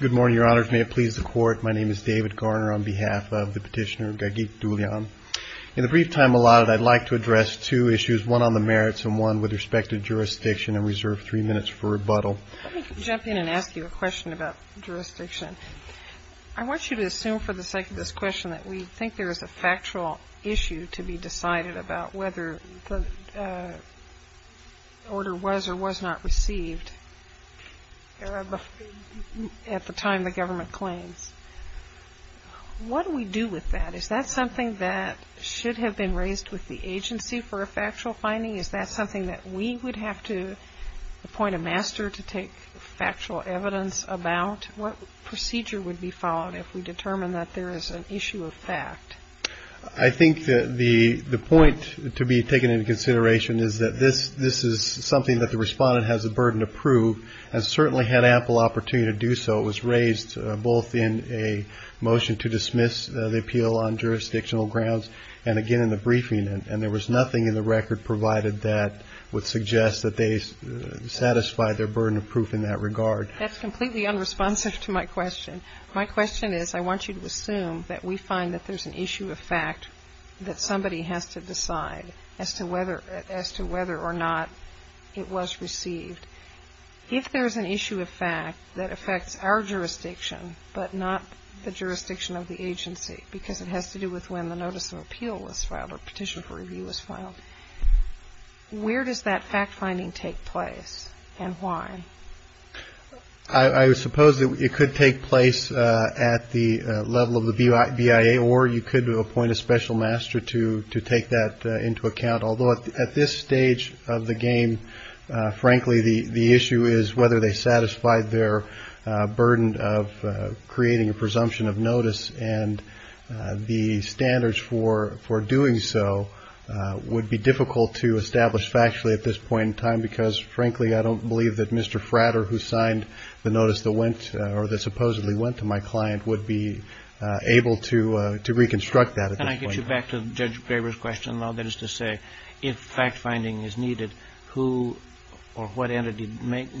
Good morning, Your Honors. May it please the Court, my name is David Garner on behalf of the petitioner, Gageek Dulyan. In the brief time allotted, I'd like to address two issues, one on the merits and one with respect to jurisdiction and reserve three minutes for rebuttal. Let me jump in and ask you a question about jurisdiction. I want you to assume for the sake of this question that we think there is a factual issue to be decided about whether the order was or was not received at the time the government claims. What do we do with that? Is that something that should have been raised with the agency for a factual finding? Is that something that we would have to appoint a master to take factual evidence about? What procedure would be followed if we determine that there is an issue of fact? I think that the point to be taken into consideration is that this is something that the respondent has a burden to prove and certainly had ample opportunity to do so. It was raised both in a motion to dismiss the appeal on jurisdictional grounds and again in the briefing and there was nothing in the record provided that would suggest that they satisfied their burden of proof in that regard. That's completely unresponsive to my question. My question is I want you to assume that we have an issue of fact that somebody has to decide as to whether or not it was received. If there is an issue of fact that affects our jurisdiction but not the jurisdiction of the agency because it has to do with when the notice of appeal was filed or petition for review was filed, where does that fact finding take place and why? I suppose it could take place at the level of the BIA or you could appoint a special master to take that into account. Although at this stage of the game, frankly the issue is whether they satisfied their burden of creating a presumption of notice and the standards for doing so would be difficult to establish factually at this point in time because frankly I don't believe that Mr. Frater who signed the notice that went or that supposedly went to my client would be able to reconstruct that at this point in time. Can I get you back to Judge Graber's question though? That is to say if fact finding is needed, who or what entity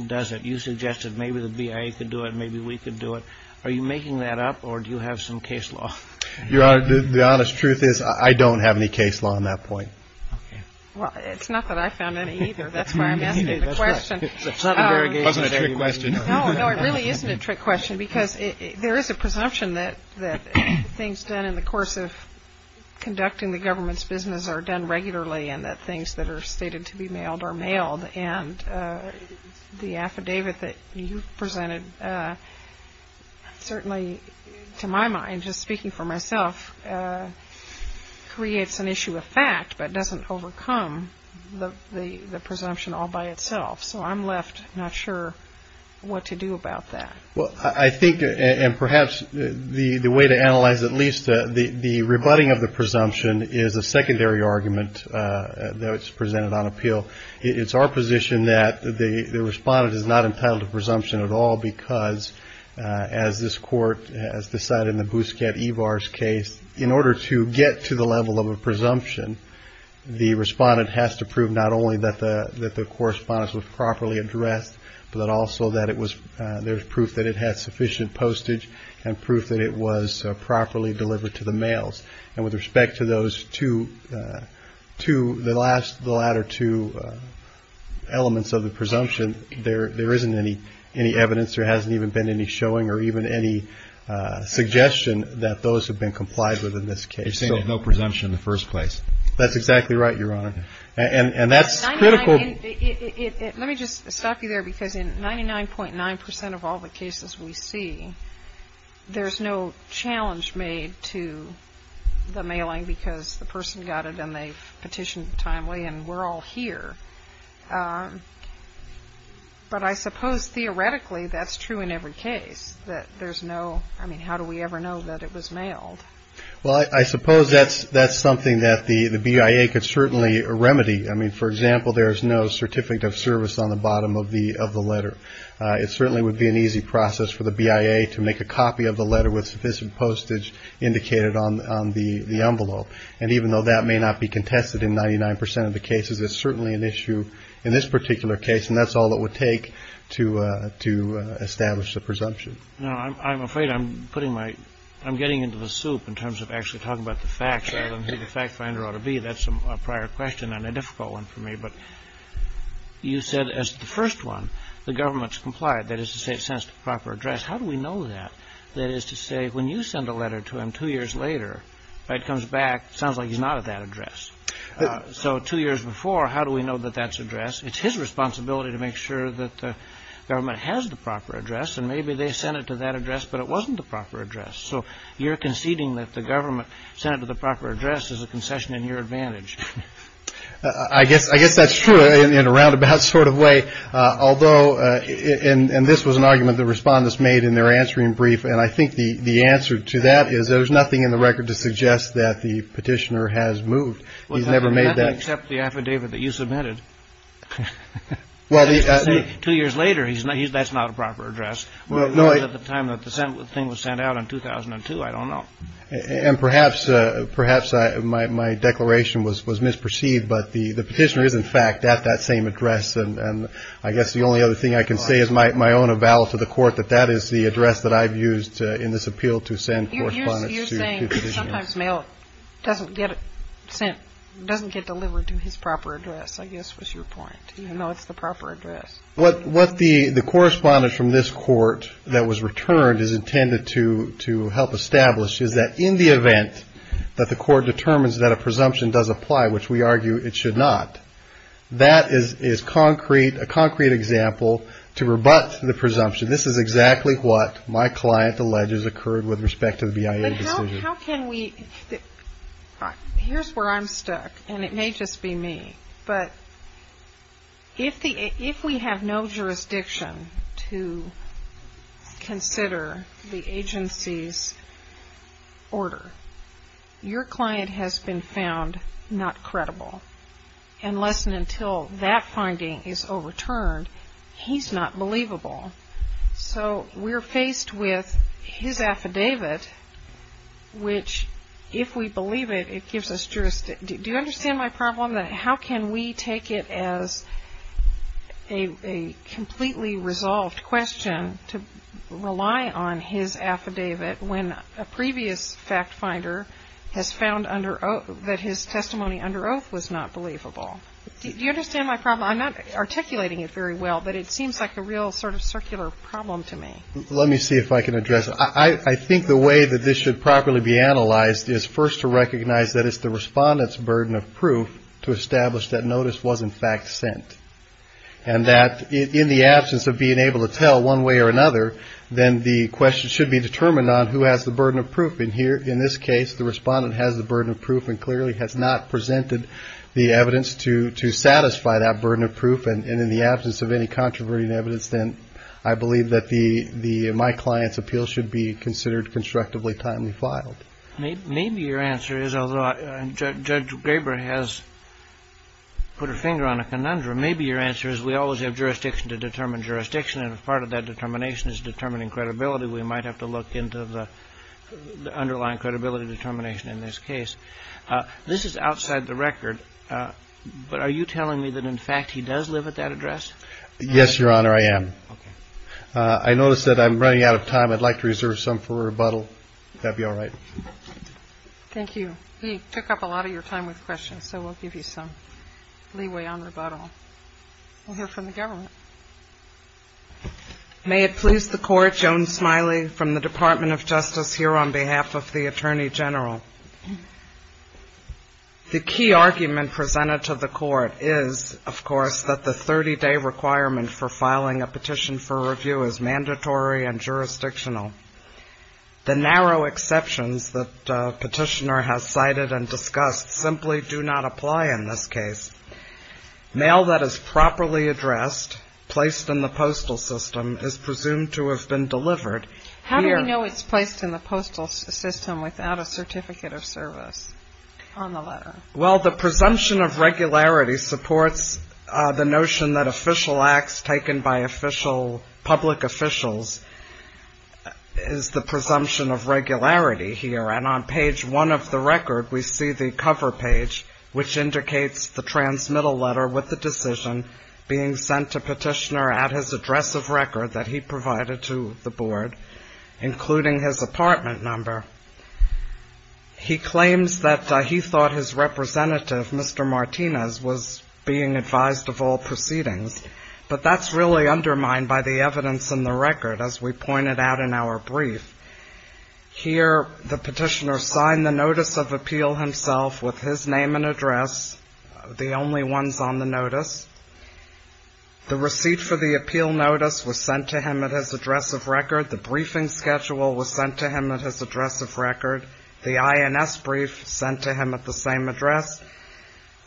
does it? You suggested maybe the BIA could do it, maybe we could do it. Are you making that up or do you have some case law? Your Honor, the honest truth is I don't have any case law on that point. Well, it's not that I found any either, that's why I'm asking the question. It wasn't a trick question. No, it really isn't a trick question because there is a presumption that things done in the course of conducting the government's business are done regularly and that things that are stated to be mailed are mailed and the affidavit that you presented certainly to my mind, just speaking for myself, creates an issue of fact but doesn't overcome the presumption all by itself. So I'm left not sure what to do about that. Well, I think and perhaps the way to analyze at least the rebutting of the presumption is a secondary argument that was presented on appeal. It's our position that the respondent is not entitled to presumption at all because as this Court has decided in the Bousquet Evar's case, in order to get to the level of a presumption, the respondent has to prove not only that the correspondence was properly addressed but also that there was proof that it had sufficient postage and proof that it was properly delivered to the mails. And with respect to those two, the latter two elements of the presumption, there isn't any evidence, there hasn't even been any showing or even any suggestion that those have been complied with in this case. You're saying there's no presumption in the first place. That's exactly right, Your Honor. And that's critical. Let me just stop you there because in 99.9% of all the cases we see, there's no challenge made to the mailing because the person got it and they've petitioned timely and we're all here. But I suppose theoretically that's true in every case, that there's no, I mean how do we ever know that it was mailed? Well, I suppose that's something that the BIA could certainly remedy. I mean, for example, there's no certificate of service on the bottom of the letter. It certainly would be an easy process for the BIA to make a copy of the letter with sufficient postage indicated on the envelope. And even though that may not be contested in 99% of the cases, it's certainly an issue in this particular case and that's all it would take to establish the presumption. Now, I'm afraid I'm putting my, I'm getting into the soup in terms of actually talking about the facts rather than who the fact finder ought to be. That's a prior question and a difficult one for me. But you said as the first one, the government's complied, that is to say it sends to proper address. How do we know that? That is to say, when you send a letter to him two years later, it comes back, sounds like he's not at that address. So two years before, how do we know that that's addressed? It's his responsibility to make sure that the government has the proper address and maybe they sent it to that address, but it wasn't the proper address. So you're conceding that the government sent it to the proper address as a concession in your advantage. I guess, I guess that's true in a roundabout sort of way. Although, and this was an argument the respondents made in their answering brief, and I think the answer to that is there's nothing in the record to suggest that the petitioner has moved. He's never made that. Except the affidavit that you submitted. Well, two years later, he's not, that's not a proper address. Well, no, at the time that the thing was sent out in 2002, I don't know. And perhaps, perhaps my declaration was misperceived, but the petitioner is, in fact, at that same address. And I guess the only other thing I can say is my own avowal to the court that that is the address that I've used in this appeal to send correspondence to. You're saying that sometimes mail doesn't get sent, doesn't get delivered to his proper address, I guess was your point, even though it's the proper address. What the correspondence from this court that was returned is intended to help establish is that in the event that the court determines that a presumption does apply, which we argue it should not, that is concrete, a concrete example to rebut the presumption. This is exactly what my client alleges occurred with respect to the BIA decision. But how can we, here's where I'm stuck, and it may just be me, but if we have no jurisdiction to consider the agency's order, your client has been found not credible. Unless and until that finding is overturned, he's not believable. So we're faced with his affidavit, which if we believe it, it gives us jurisdiction. Do you understand my problem? How can we take it as a completely resolved question to rely on his affidavit when a previous fact finder has found that his testimony under oath was not believable? Do you understand my problem? I'm not articulating it very well, but it seems like a real sort of circular problem to me. Let me see if I can address it. I think the way that this should properly be analyzed is first to recognize that it's the respondent's burden of proof to establish that notice wasn't in fact sent. And that in the absence of being able to tell one way or another, then the question should be determined on who has the burden of proof. In this case, the respondent has the burden of proof and clearly has not presented the evidence to satisfy that burden of proof. And in the absence of any controversial evidence, then I believe that my client's appeal should be considered constructively timely filed. Maybe your answer is, although Judge Graber has put her finger on a conundrum, maybe your answer is we always have jurisdiction to determine jurisdiction. And if part of that determination is determining credibility, we might have to look into the underlying credibility determination in this case. This is outside the record, but are you telling me that, in fact, he does live at that address? Yes, Your Honor, I am. Okay. I notice that I'm running out of time. I'd like to reserve some for rebuttal. If that would be all right. Thank you. He took up a lot of your time with questions, so we'll give you some leeway on rebuttal. We'll hear from the government. May it please the Court, Joan Smiley from the Department of Justice, here on behalf of the Attorney General. The key argument presented to the Court is, of course, that the 30-day requirement for filing a petition for review is mandatory and jurisdictional. The narrow exceptions that Petitioner has cited and discussed simply do not apply in this case. Mail that is properly addressed, placed in the postal system, is presumed to have been delivered. How do we know it's placed in the postal system without a certificate of service on the letter? Well, the presumption of regularity supports the notion that official acts taken by public officials is the presumption of regularity here. And on page one of the record, we see the cover page, which indicates the transmittal letter with the decision being sent to Petitioner at his address of record that he provided to the Board, including his apartment number. He claims that he thought his representative, Mr. Martinez, was being advised of all proceedings, but that's really undermined by the evidence in the record, as we pointed out in our brief. Here the Petitioner signed the notice of appeal himself with his name and address, the only ones on the notice. The receipt for the appeal notice was sent to him at his address of record. The briefing schedule was sent to him at his address of record. The INS brief sent to him at the same address.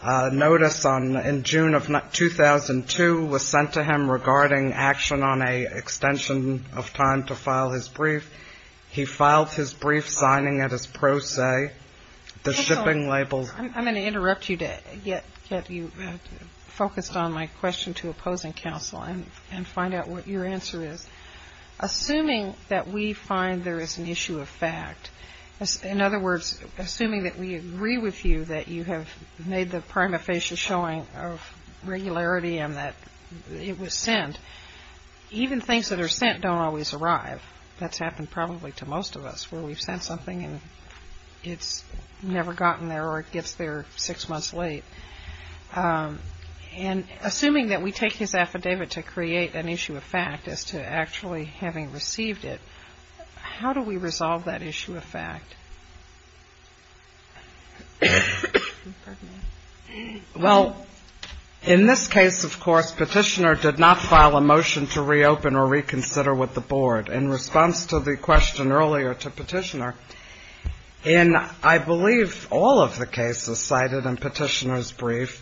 Notice in June of 2002 was sent to him regarding action on an extension of time to file his brief. He filed his brief, signing it as pro se. Counsel, I'm going to interrupt you to get you focused on my question to opposing counsel and find out what your answer is. Assuming that we find there is an issue of fact, in other words, assuming that we agree with you that you have made the prima facie showing of regularity and that it was sent, even things that are sent don't always arrive. That's happened probably to most of us, where we've sent something and it's never gotten there or it gets there six months late. Assuming that we take his affidavit to create an issue of fact as to actually having received it, how do we resolve that issue of fact? Well, in this case, of course, Petitioner did not file a motion to reopen or reconsider with the board. In response to the question earlier to Petitioner, in I believe all of the cases cited in Petitioner's brief,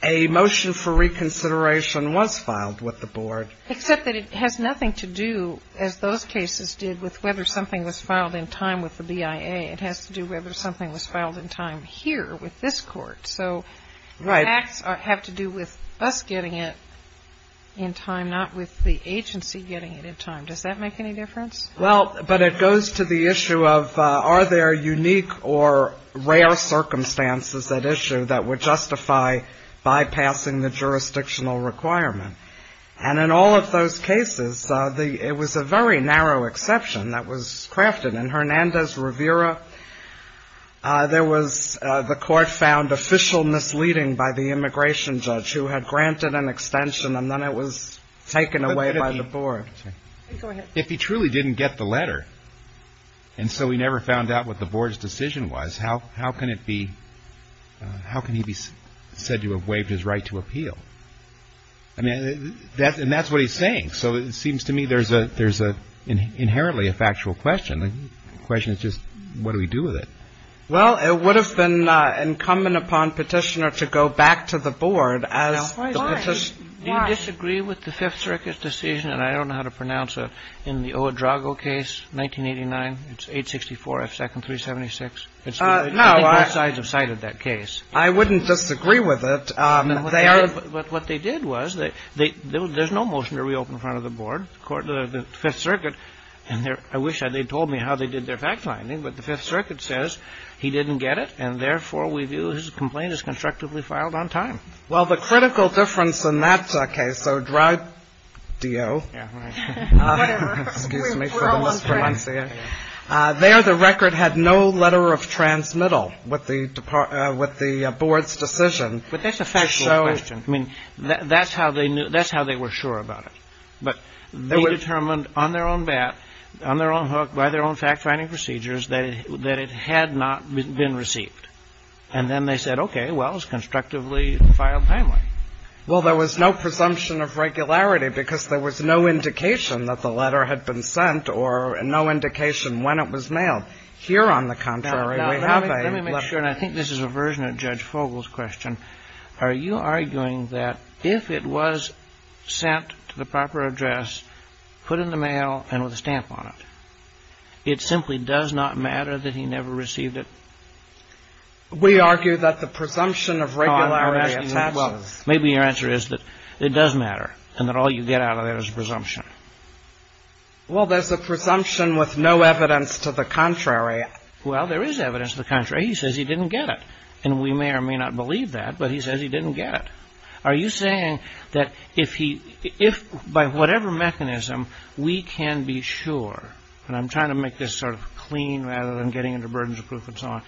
a motion for reconsideration was filed with the board. Except that it has nothing to do, as those cases did, with whether something was filed in time with the BIA. It has to do with whether something was filed in time here with this court. So the facts have to do with us getting it in time, not with the agency getting it in time. Does that make any difference? Well, but it goes to the issue of are there unique or rare circumstances at issue that would justify bypassing the jurisdictional requirement? And in all of those cases, it was a very narrow exception that was crafted. In Hernandez-Rivera, there was the court found official misleading by the immigration judge who had granted an extension, and then it was taken away by the board. If he truly didn't get the letter, and so he never found out what the board's decision was, how can it be, how can he be said to have waived his right to appeal? I mean, and that's what he's saying. So it seems to me there's inherently a factual question. The question is just what do we do with it? Well, it would have been incumbent upon Petitioner to go back to the board as the petitioner would have gone back to the board. I disagree with the Fifth Circuit's decision, and I don't know how to pronounce it, in the O. Edrago case, 1989, it's 864 F. Second 376. I think both sides have cited that case. I wouldn't disagree with it. But what they did was, there's no motion to reopen in front of the board, the Fifth Circuit, and I wish they'd told me how they did their fact-finding, but the Fifth Circuit did not. Okay, so Dry-do. Yeah, right. Whatever. Excuse me for the mispronunciation. We're all on track. There, the record had no letter of transmittal with the board's decision. But that's a factual question. I mean, that's how they knew, that's how they were sure about it. But they determined on their own bat, on their own hook, by their own fact-finding procedures, that it had not been received. And then they said, okay, well, it's constructively filed timely. Well, there was no presumption of regularity because there was no indication that the letter had been sent or no indication when it was mailed. Here, on the contrary, we have a letter. Now, let me make sure, and I think this is a version of Judge Fogel's question. Are you arguing that if it was sent to the proper address, put in the mail and with a stamp on it, it simply does not matter that he never received it? We argue that the presumption of regularity attaches. Maybe your answer is that it does matter and that all you get out of it is a presumption. Well, there's a presumption with no evidence to the contrary. Well, there is evidence to the contrary. He says he didn't get it. And we may or may not believe that, but he says he didn't get it. Are you saying that if he, if by whatever mechanism we can be sure, and I'm trying to make this sort of clean rather than getting into burdens of proof and so on,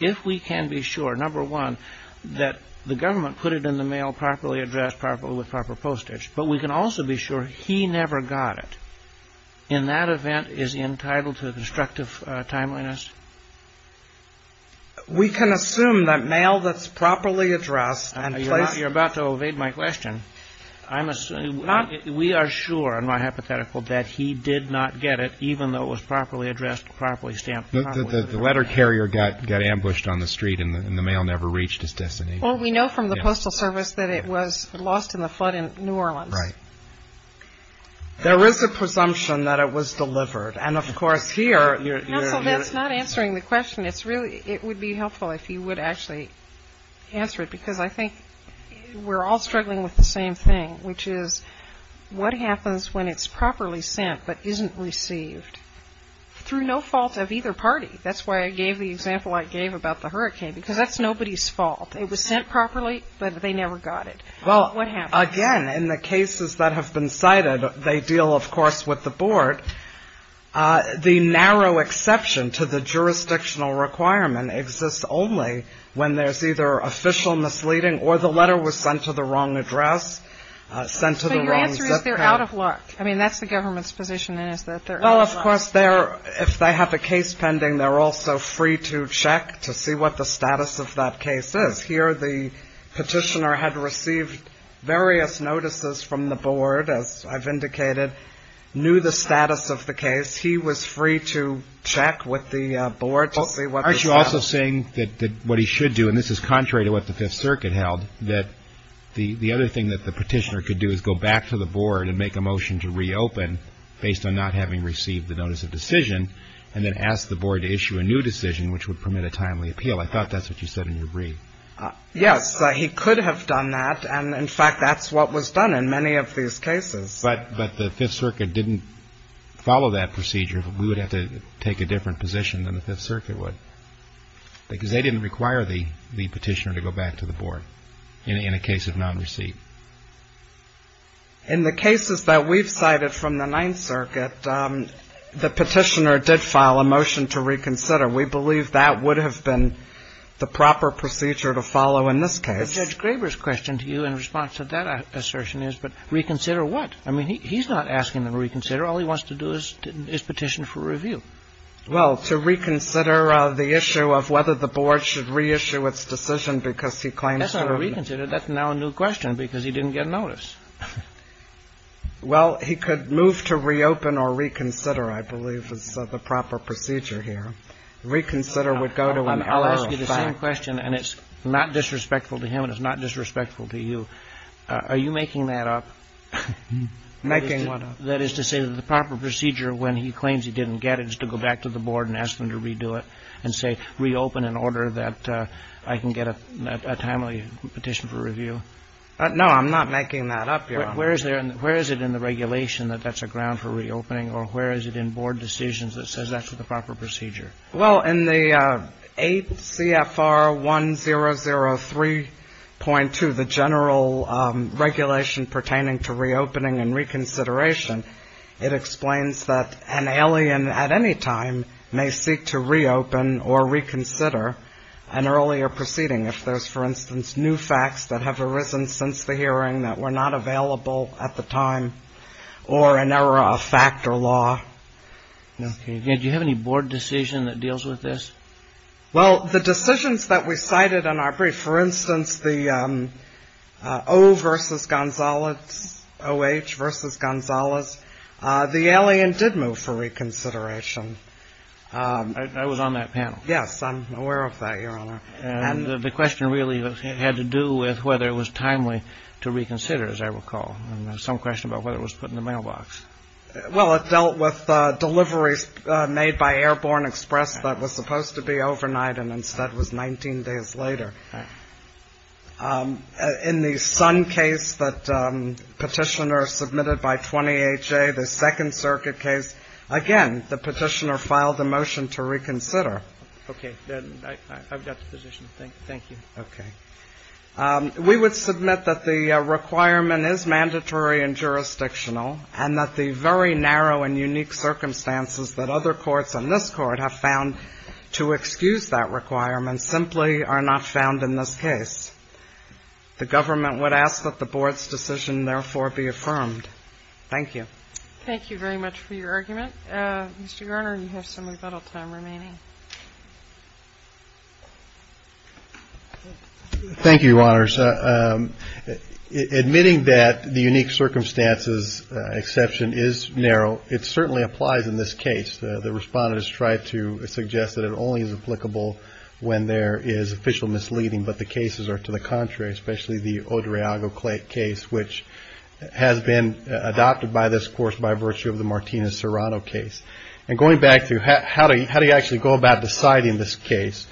if we can be sure, number one, that the government put it in the mail properly addressed, properly with proper postage, but we can also be sure he never got it, in that event, is he entitled to destructive timeliness? We can assume that mail that's properly addressed and placed... You're about to evade my question. I'm assuming... We are sure, in my hypothetical, that he did not get it, even though it was properly addressed, properly stamped... The letter carrier got ambushed on the street and the mail never reached its destination. Well, we know from the Postal Service that it was lost in the flood in New Orleans. Right. There is a presumption that it was delivered. And, of course, here... Counsel, that's not answering the question. It's really, it would be helpful if you would actually answer it, because I think we're all struggling with the same thing, which is, what happens when it's properly sent, but isn't received? Through no fault of either party. That's why I gave the example I gave about the hurricane, because that's nobody's fault. It was sent properly, but they never got it. What happens? Well, again, in the cases that have been cited, they deal, of course, with the board. The narrow exception to the jurisdictional requirement exists only when there's either official misleading or the letter was sent to the wrong address, sent to the wrong zip code. So your answer is they're out of luck. I mean, that's the government's position, is that they're out of luck. Well, of course, if they have a case pending, they're also free to check to see what the status of that case is. Here, the petitioner had received various notices from the board, as I've indicated, knew the status of the case. He was free to check with the board to see what the status... Yes, he could have done that. And, in fact, that's what was done in many of these cases. But the Fifth Circuit didn't follow that procedure. We would have to take a different position than the Fifth Circuit would, because they didn't require the petitioner to go back to the board. In the cases that we've cited from the Ninth Circuit, the petitioner did file a motion to reconsider. We believe that would have been the proper procedure to follow in this case. But Judge Graber's question to you in response to that assertion is, but reconsider what? I mean, he's not asking them to reconsider. All he wants to do is petition for review. Well, to reconsider the issue of whether the board should reissue its decision because he claims... That's not a reconsider. That's now a new question, because he didn't get notice. Well, he could move to reopen or reconsider, I believe, is the proper procedure here. Reconsider would go to an error of fact. I'll ask you the same question, and it's not disrespectful to him and it's not disrespectful to you. Are you making that up? Making what up? That is to say that the proper procedure when he claims he didn't get it is to go back to the board and ask them to redo it and say reopen in order that I can get a timely petition for review. No, I'm not making that up, Your Honor. Where is it in the regulation that that's a ground for reopening, or where is it in board decisions that says that's the proper procedure? Well, in the 8 CFR 1003.2, the general regulation pertaining to reopening and reconsideration, it explains that an alien at any time may seek to reopen or reconsider an earlier proceeding if there's, for instance, new facts that have arisen since the hearing that were not available at the time or an error of fact or law. Do you have any board decision that deals with this? Well, the decisions that we cited in our brief, for instance, the O versus Gonzalez, OH versus Gonzalez, the alien did move for reconsideration. I was on that panel. Yes, I'm aware of that, Your Honor. And the question really had to do with whether it was timely to reconsider, as I recall, and some question about whether it was put in the mailbox. Well, it dealt with deliveries made by Airborne Express that was supposed to be overnight and instead was 19 days later. In the Sun case that Petitioner submitted by 20HA, the Second Circuit case, again, the Petitioner filed a motion to reconsider. Okay. I've got the position. Thank you. Okay. We would submit that the requirement is mandatory and jurisdictional and that the very narrow and unique circumstances that other courts on this Court have found to excuse that requirement simply are not found in this case. The government would ask that the board's decision, therefore, be affirmed. Thank you. Thank you very much for your argument. Mr. Garner, you have some rebuttal time remaining. Thank you, Your Honors. Admitting that the unique circumstances exception is narrow, it certainly applies in this case. The Respondent has tried to suggest that it only is applicable when there is official misleading, but the cases are to the contrary, especially the Odriago case, which has been adopted by this Court by virtue of the Martinez-Serrano case. And going back to how do you actually go about deciding this case,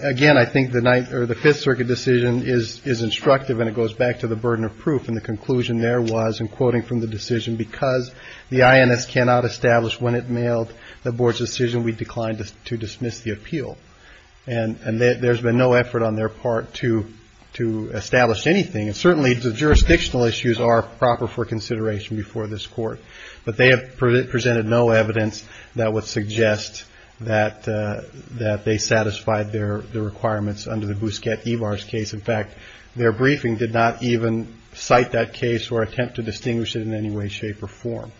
again, I think the Fifth Circuit decision is instructive and it goes back to the burden of proof and the conclusion there was, in quoting from the decision, because the INS cannot establish when it mailed the board's decision, we declined to dismiss the appeal. And there's been no effort on their part to establish anything, and certainly the jurisdictional issues are proper for consideration before this Court. But they have presented no evidence that would suggest that they satisfied their requirements under the Bousquet-Ivar's case. In fact, their briefing did not even cite that case or attempt to distinguish it in any way, shape, or form.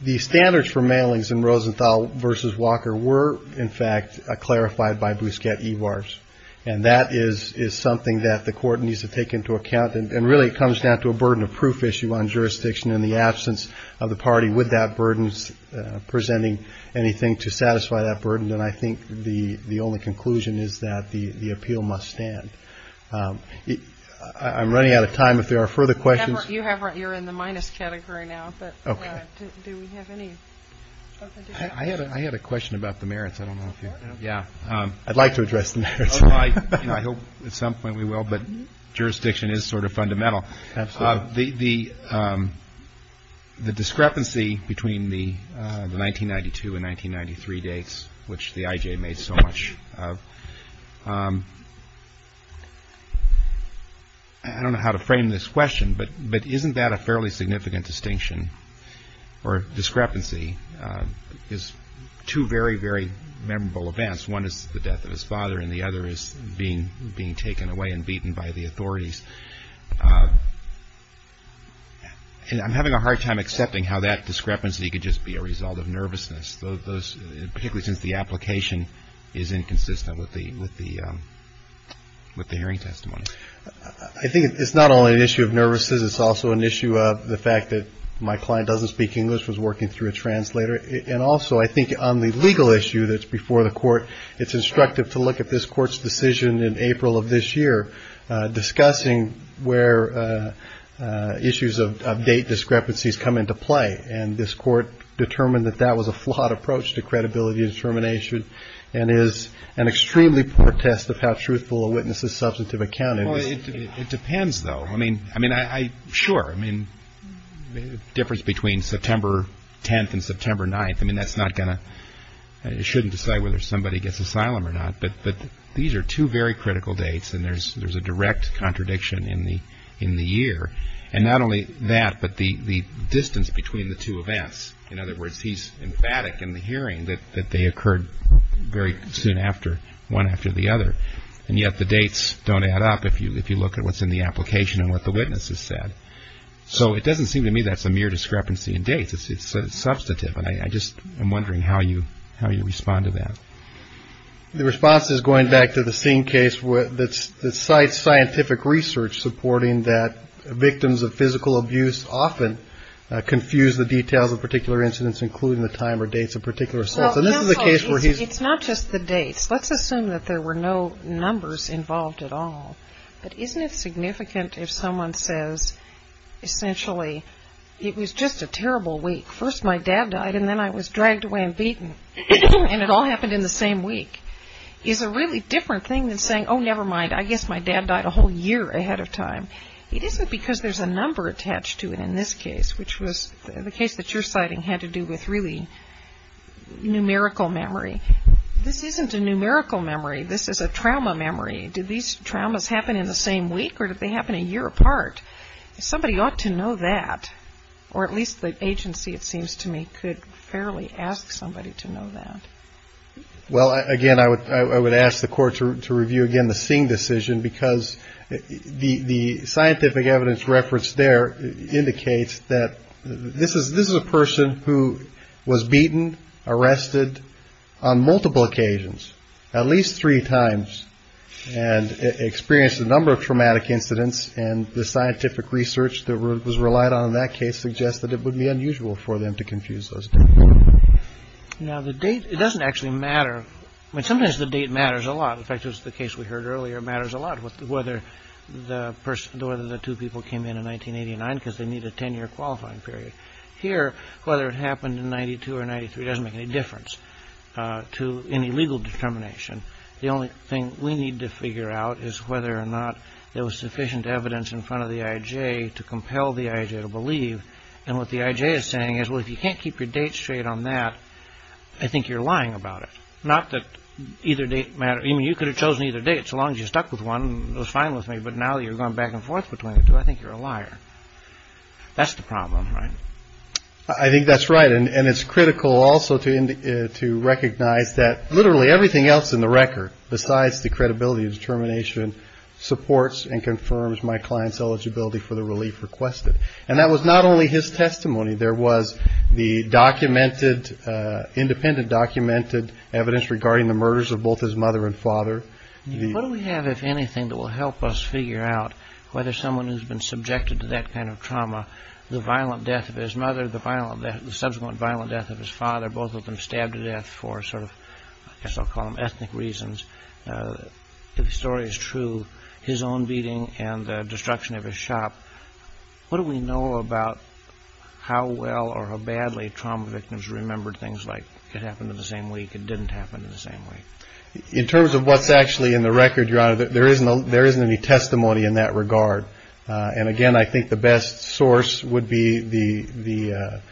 The standards for mailings in Rosenthal v. Walker were, in fact, clarified by Bousquet-Ivar's. And that is something that the Court needs to take into account. And really it comes down to a burden of proof issue on jurisdiction and the absence of the party with that burden presenting anything to satisfy that burden. And I think the only conclusion is that the appeal must stand. I'm running out of time if there are further questions. You're in the minus category now, but do we have any? I had a question about the merits. I'd like to address the merits. I hope at some point we will, but jurisdiction is sort of fundamental. Absolutely. The discrepancy between the 1992 and 1993 dates, which the IJ made so much of, I don't know how to frame this question, but isn't that a fairly significant distinction or discrepancy is two very, very memorable events. One is the death of his father, and the other is being taken away and beaten by the authorities. And I'm having a hard time accepting how that discrepancy could just be a result of nervousness, particularly since the application is inconsistent with the hearing testimony. I think it's not only an issue of nervousness. It's also an issue of the fact that my client doesn't speak English, was working through a translator. And also I think on the legal issue that's before the court, it's instructive to look at this court's decision in April of this year discussing where issues of date discrepancies come into play. And this court determined that that was a flawed approach to credibility and termination and is an extremely poor test of how truthful a witness's substantive account is. It depends, though. I mean, I mean, I sure I mean, the difference between September 10th and September 9th. I mean, that's not going to you shouldn't decide whether somebody gets asylum or not. But these are two very critical dates. And there's there's a direct contradiction in the in the year. And not only that, but the distance between the two events. In other words, he's emphatic in the hearing that they occurred very soon after one after the other. And yet the dates don't add up. If you if you look at what's in the application and what the witnesses said. So it doesn't seem to me that's a mere discrepancy in dates. It's substantive. And I just I'm wondering how you how you respond to that. The response is going back to the same case that's the site's scientific research, supporting that victims of physical abuse often confuse the details of particular incidents, including the time or dates of particular sets. And this is a case where he's not just the dates. Let's assume that there were no numbers involved at all. But isn't it significant if someone says, essentially, it was just a terrible week. First, my dad died and then I was dragged away and beaten. And it all happened in the same week is a really different thing than saying, oh, never mind. I guess my dad died a whole year ahead of time. It isn't because there's a number attached to it in this case, which was the case that you're citing had to do with really numerical memory. This isn't a numerical memory. This is a trauma memory. Did these traumas happen in the same week or did they happen a year apart? Somebody ought to know that. Or at least the agency, it seems to me, could fairly ask somebody to know that. Well, again, I would I would ask the court to review, again, the seeing decision because the scientific evidence referenced there indicates that this is this is a person who was beaten, arrested on multiple occasions at least three times and experienced a number of traumatic incidents. And the scientific research that was relied on in that case suggested it would be unusual for them to confuse those. Now, the date doesn't actually matter. Sometimes the date matters a lot. In fact, it was the case we heard earlier. It matters a lot whether the person or the two people came in in 1989 because they need a 10 year qualifying period here. Whether it happened in 92 or 93 doesn't make any difference to any legal determination. The only thing we need to figure out is whether or not there was sufficient evidence in front of the IJ to compel the IJ to believe. And what the IJ is saying is, well, if you can't keep your date straight on that, I think you're lying about it. Not that either date matter. I mean, you could have chosen either date so long as you stuck with one was fine with me. But now you're going back and forth between the two. I think you're a liar. That's the problem, right? I think that's right. And it's critical also to to recognize that literally everything else in the record, besides the credibility of determination, supports and confirms my client's eligibility for the relief requested. And that was not only his testimony. There was the documented independent documented evidence regarding the murders of both his mother and father. What do we have, if anything, that will help us figure out whether someone who's been subjected to that kind of trauma, the violent death of his mother, the violent, the subsequent violent death of his father, both of them stabbed to death for sort of so-called ethnic reasons. The story is true. His own beating and the destruction of his shop. What do we know about how well or how badly trauma victims remember things like it happened in the same week? It didn't happen in the same way in terms of what's actually in the record. There isn't there isn't any testimony in that regard. And again, I think the best source would be the the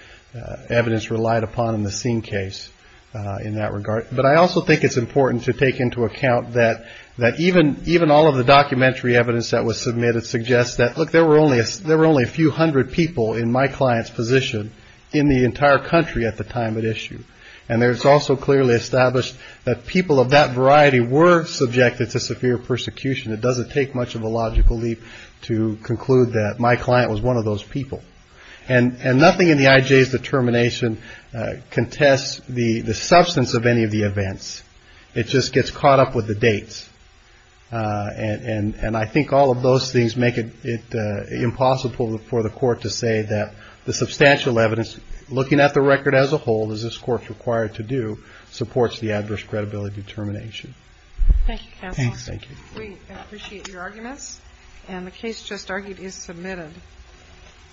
evidence relied upon in the scene case in that regard. But I also think it's important to take into account that that even even all of the documentary evidence that was submitted suggests that, look, there were only there were only a few hundred people in my client's position in the entire country at the time at issue. And there is also clearly established that people of that variety were subjected to severe persecution. It doesn't take much of a logical leap to conclude that my client was one of those people. And nothing in the IJ's determination contests the substance of any of the events. It just gets caught up with the dates. And I think all of those things make it impossible for the court to say that the substantial evidence looking at the record as a whole, does this court required to do supports the adverse credibility determination? Thank you. Thank you. We appreciate your arguments. And the case just argued is submitted.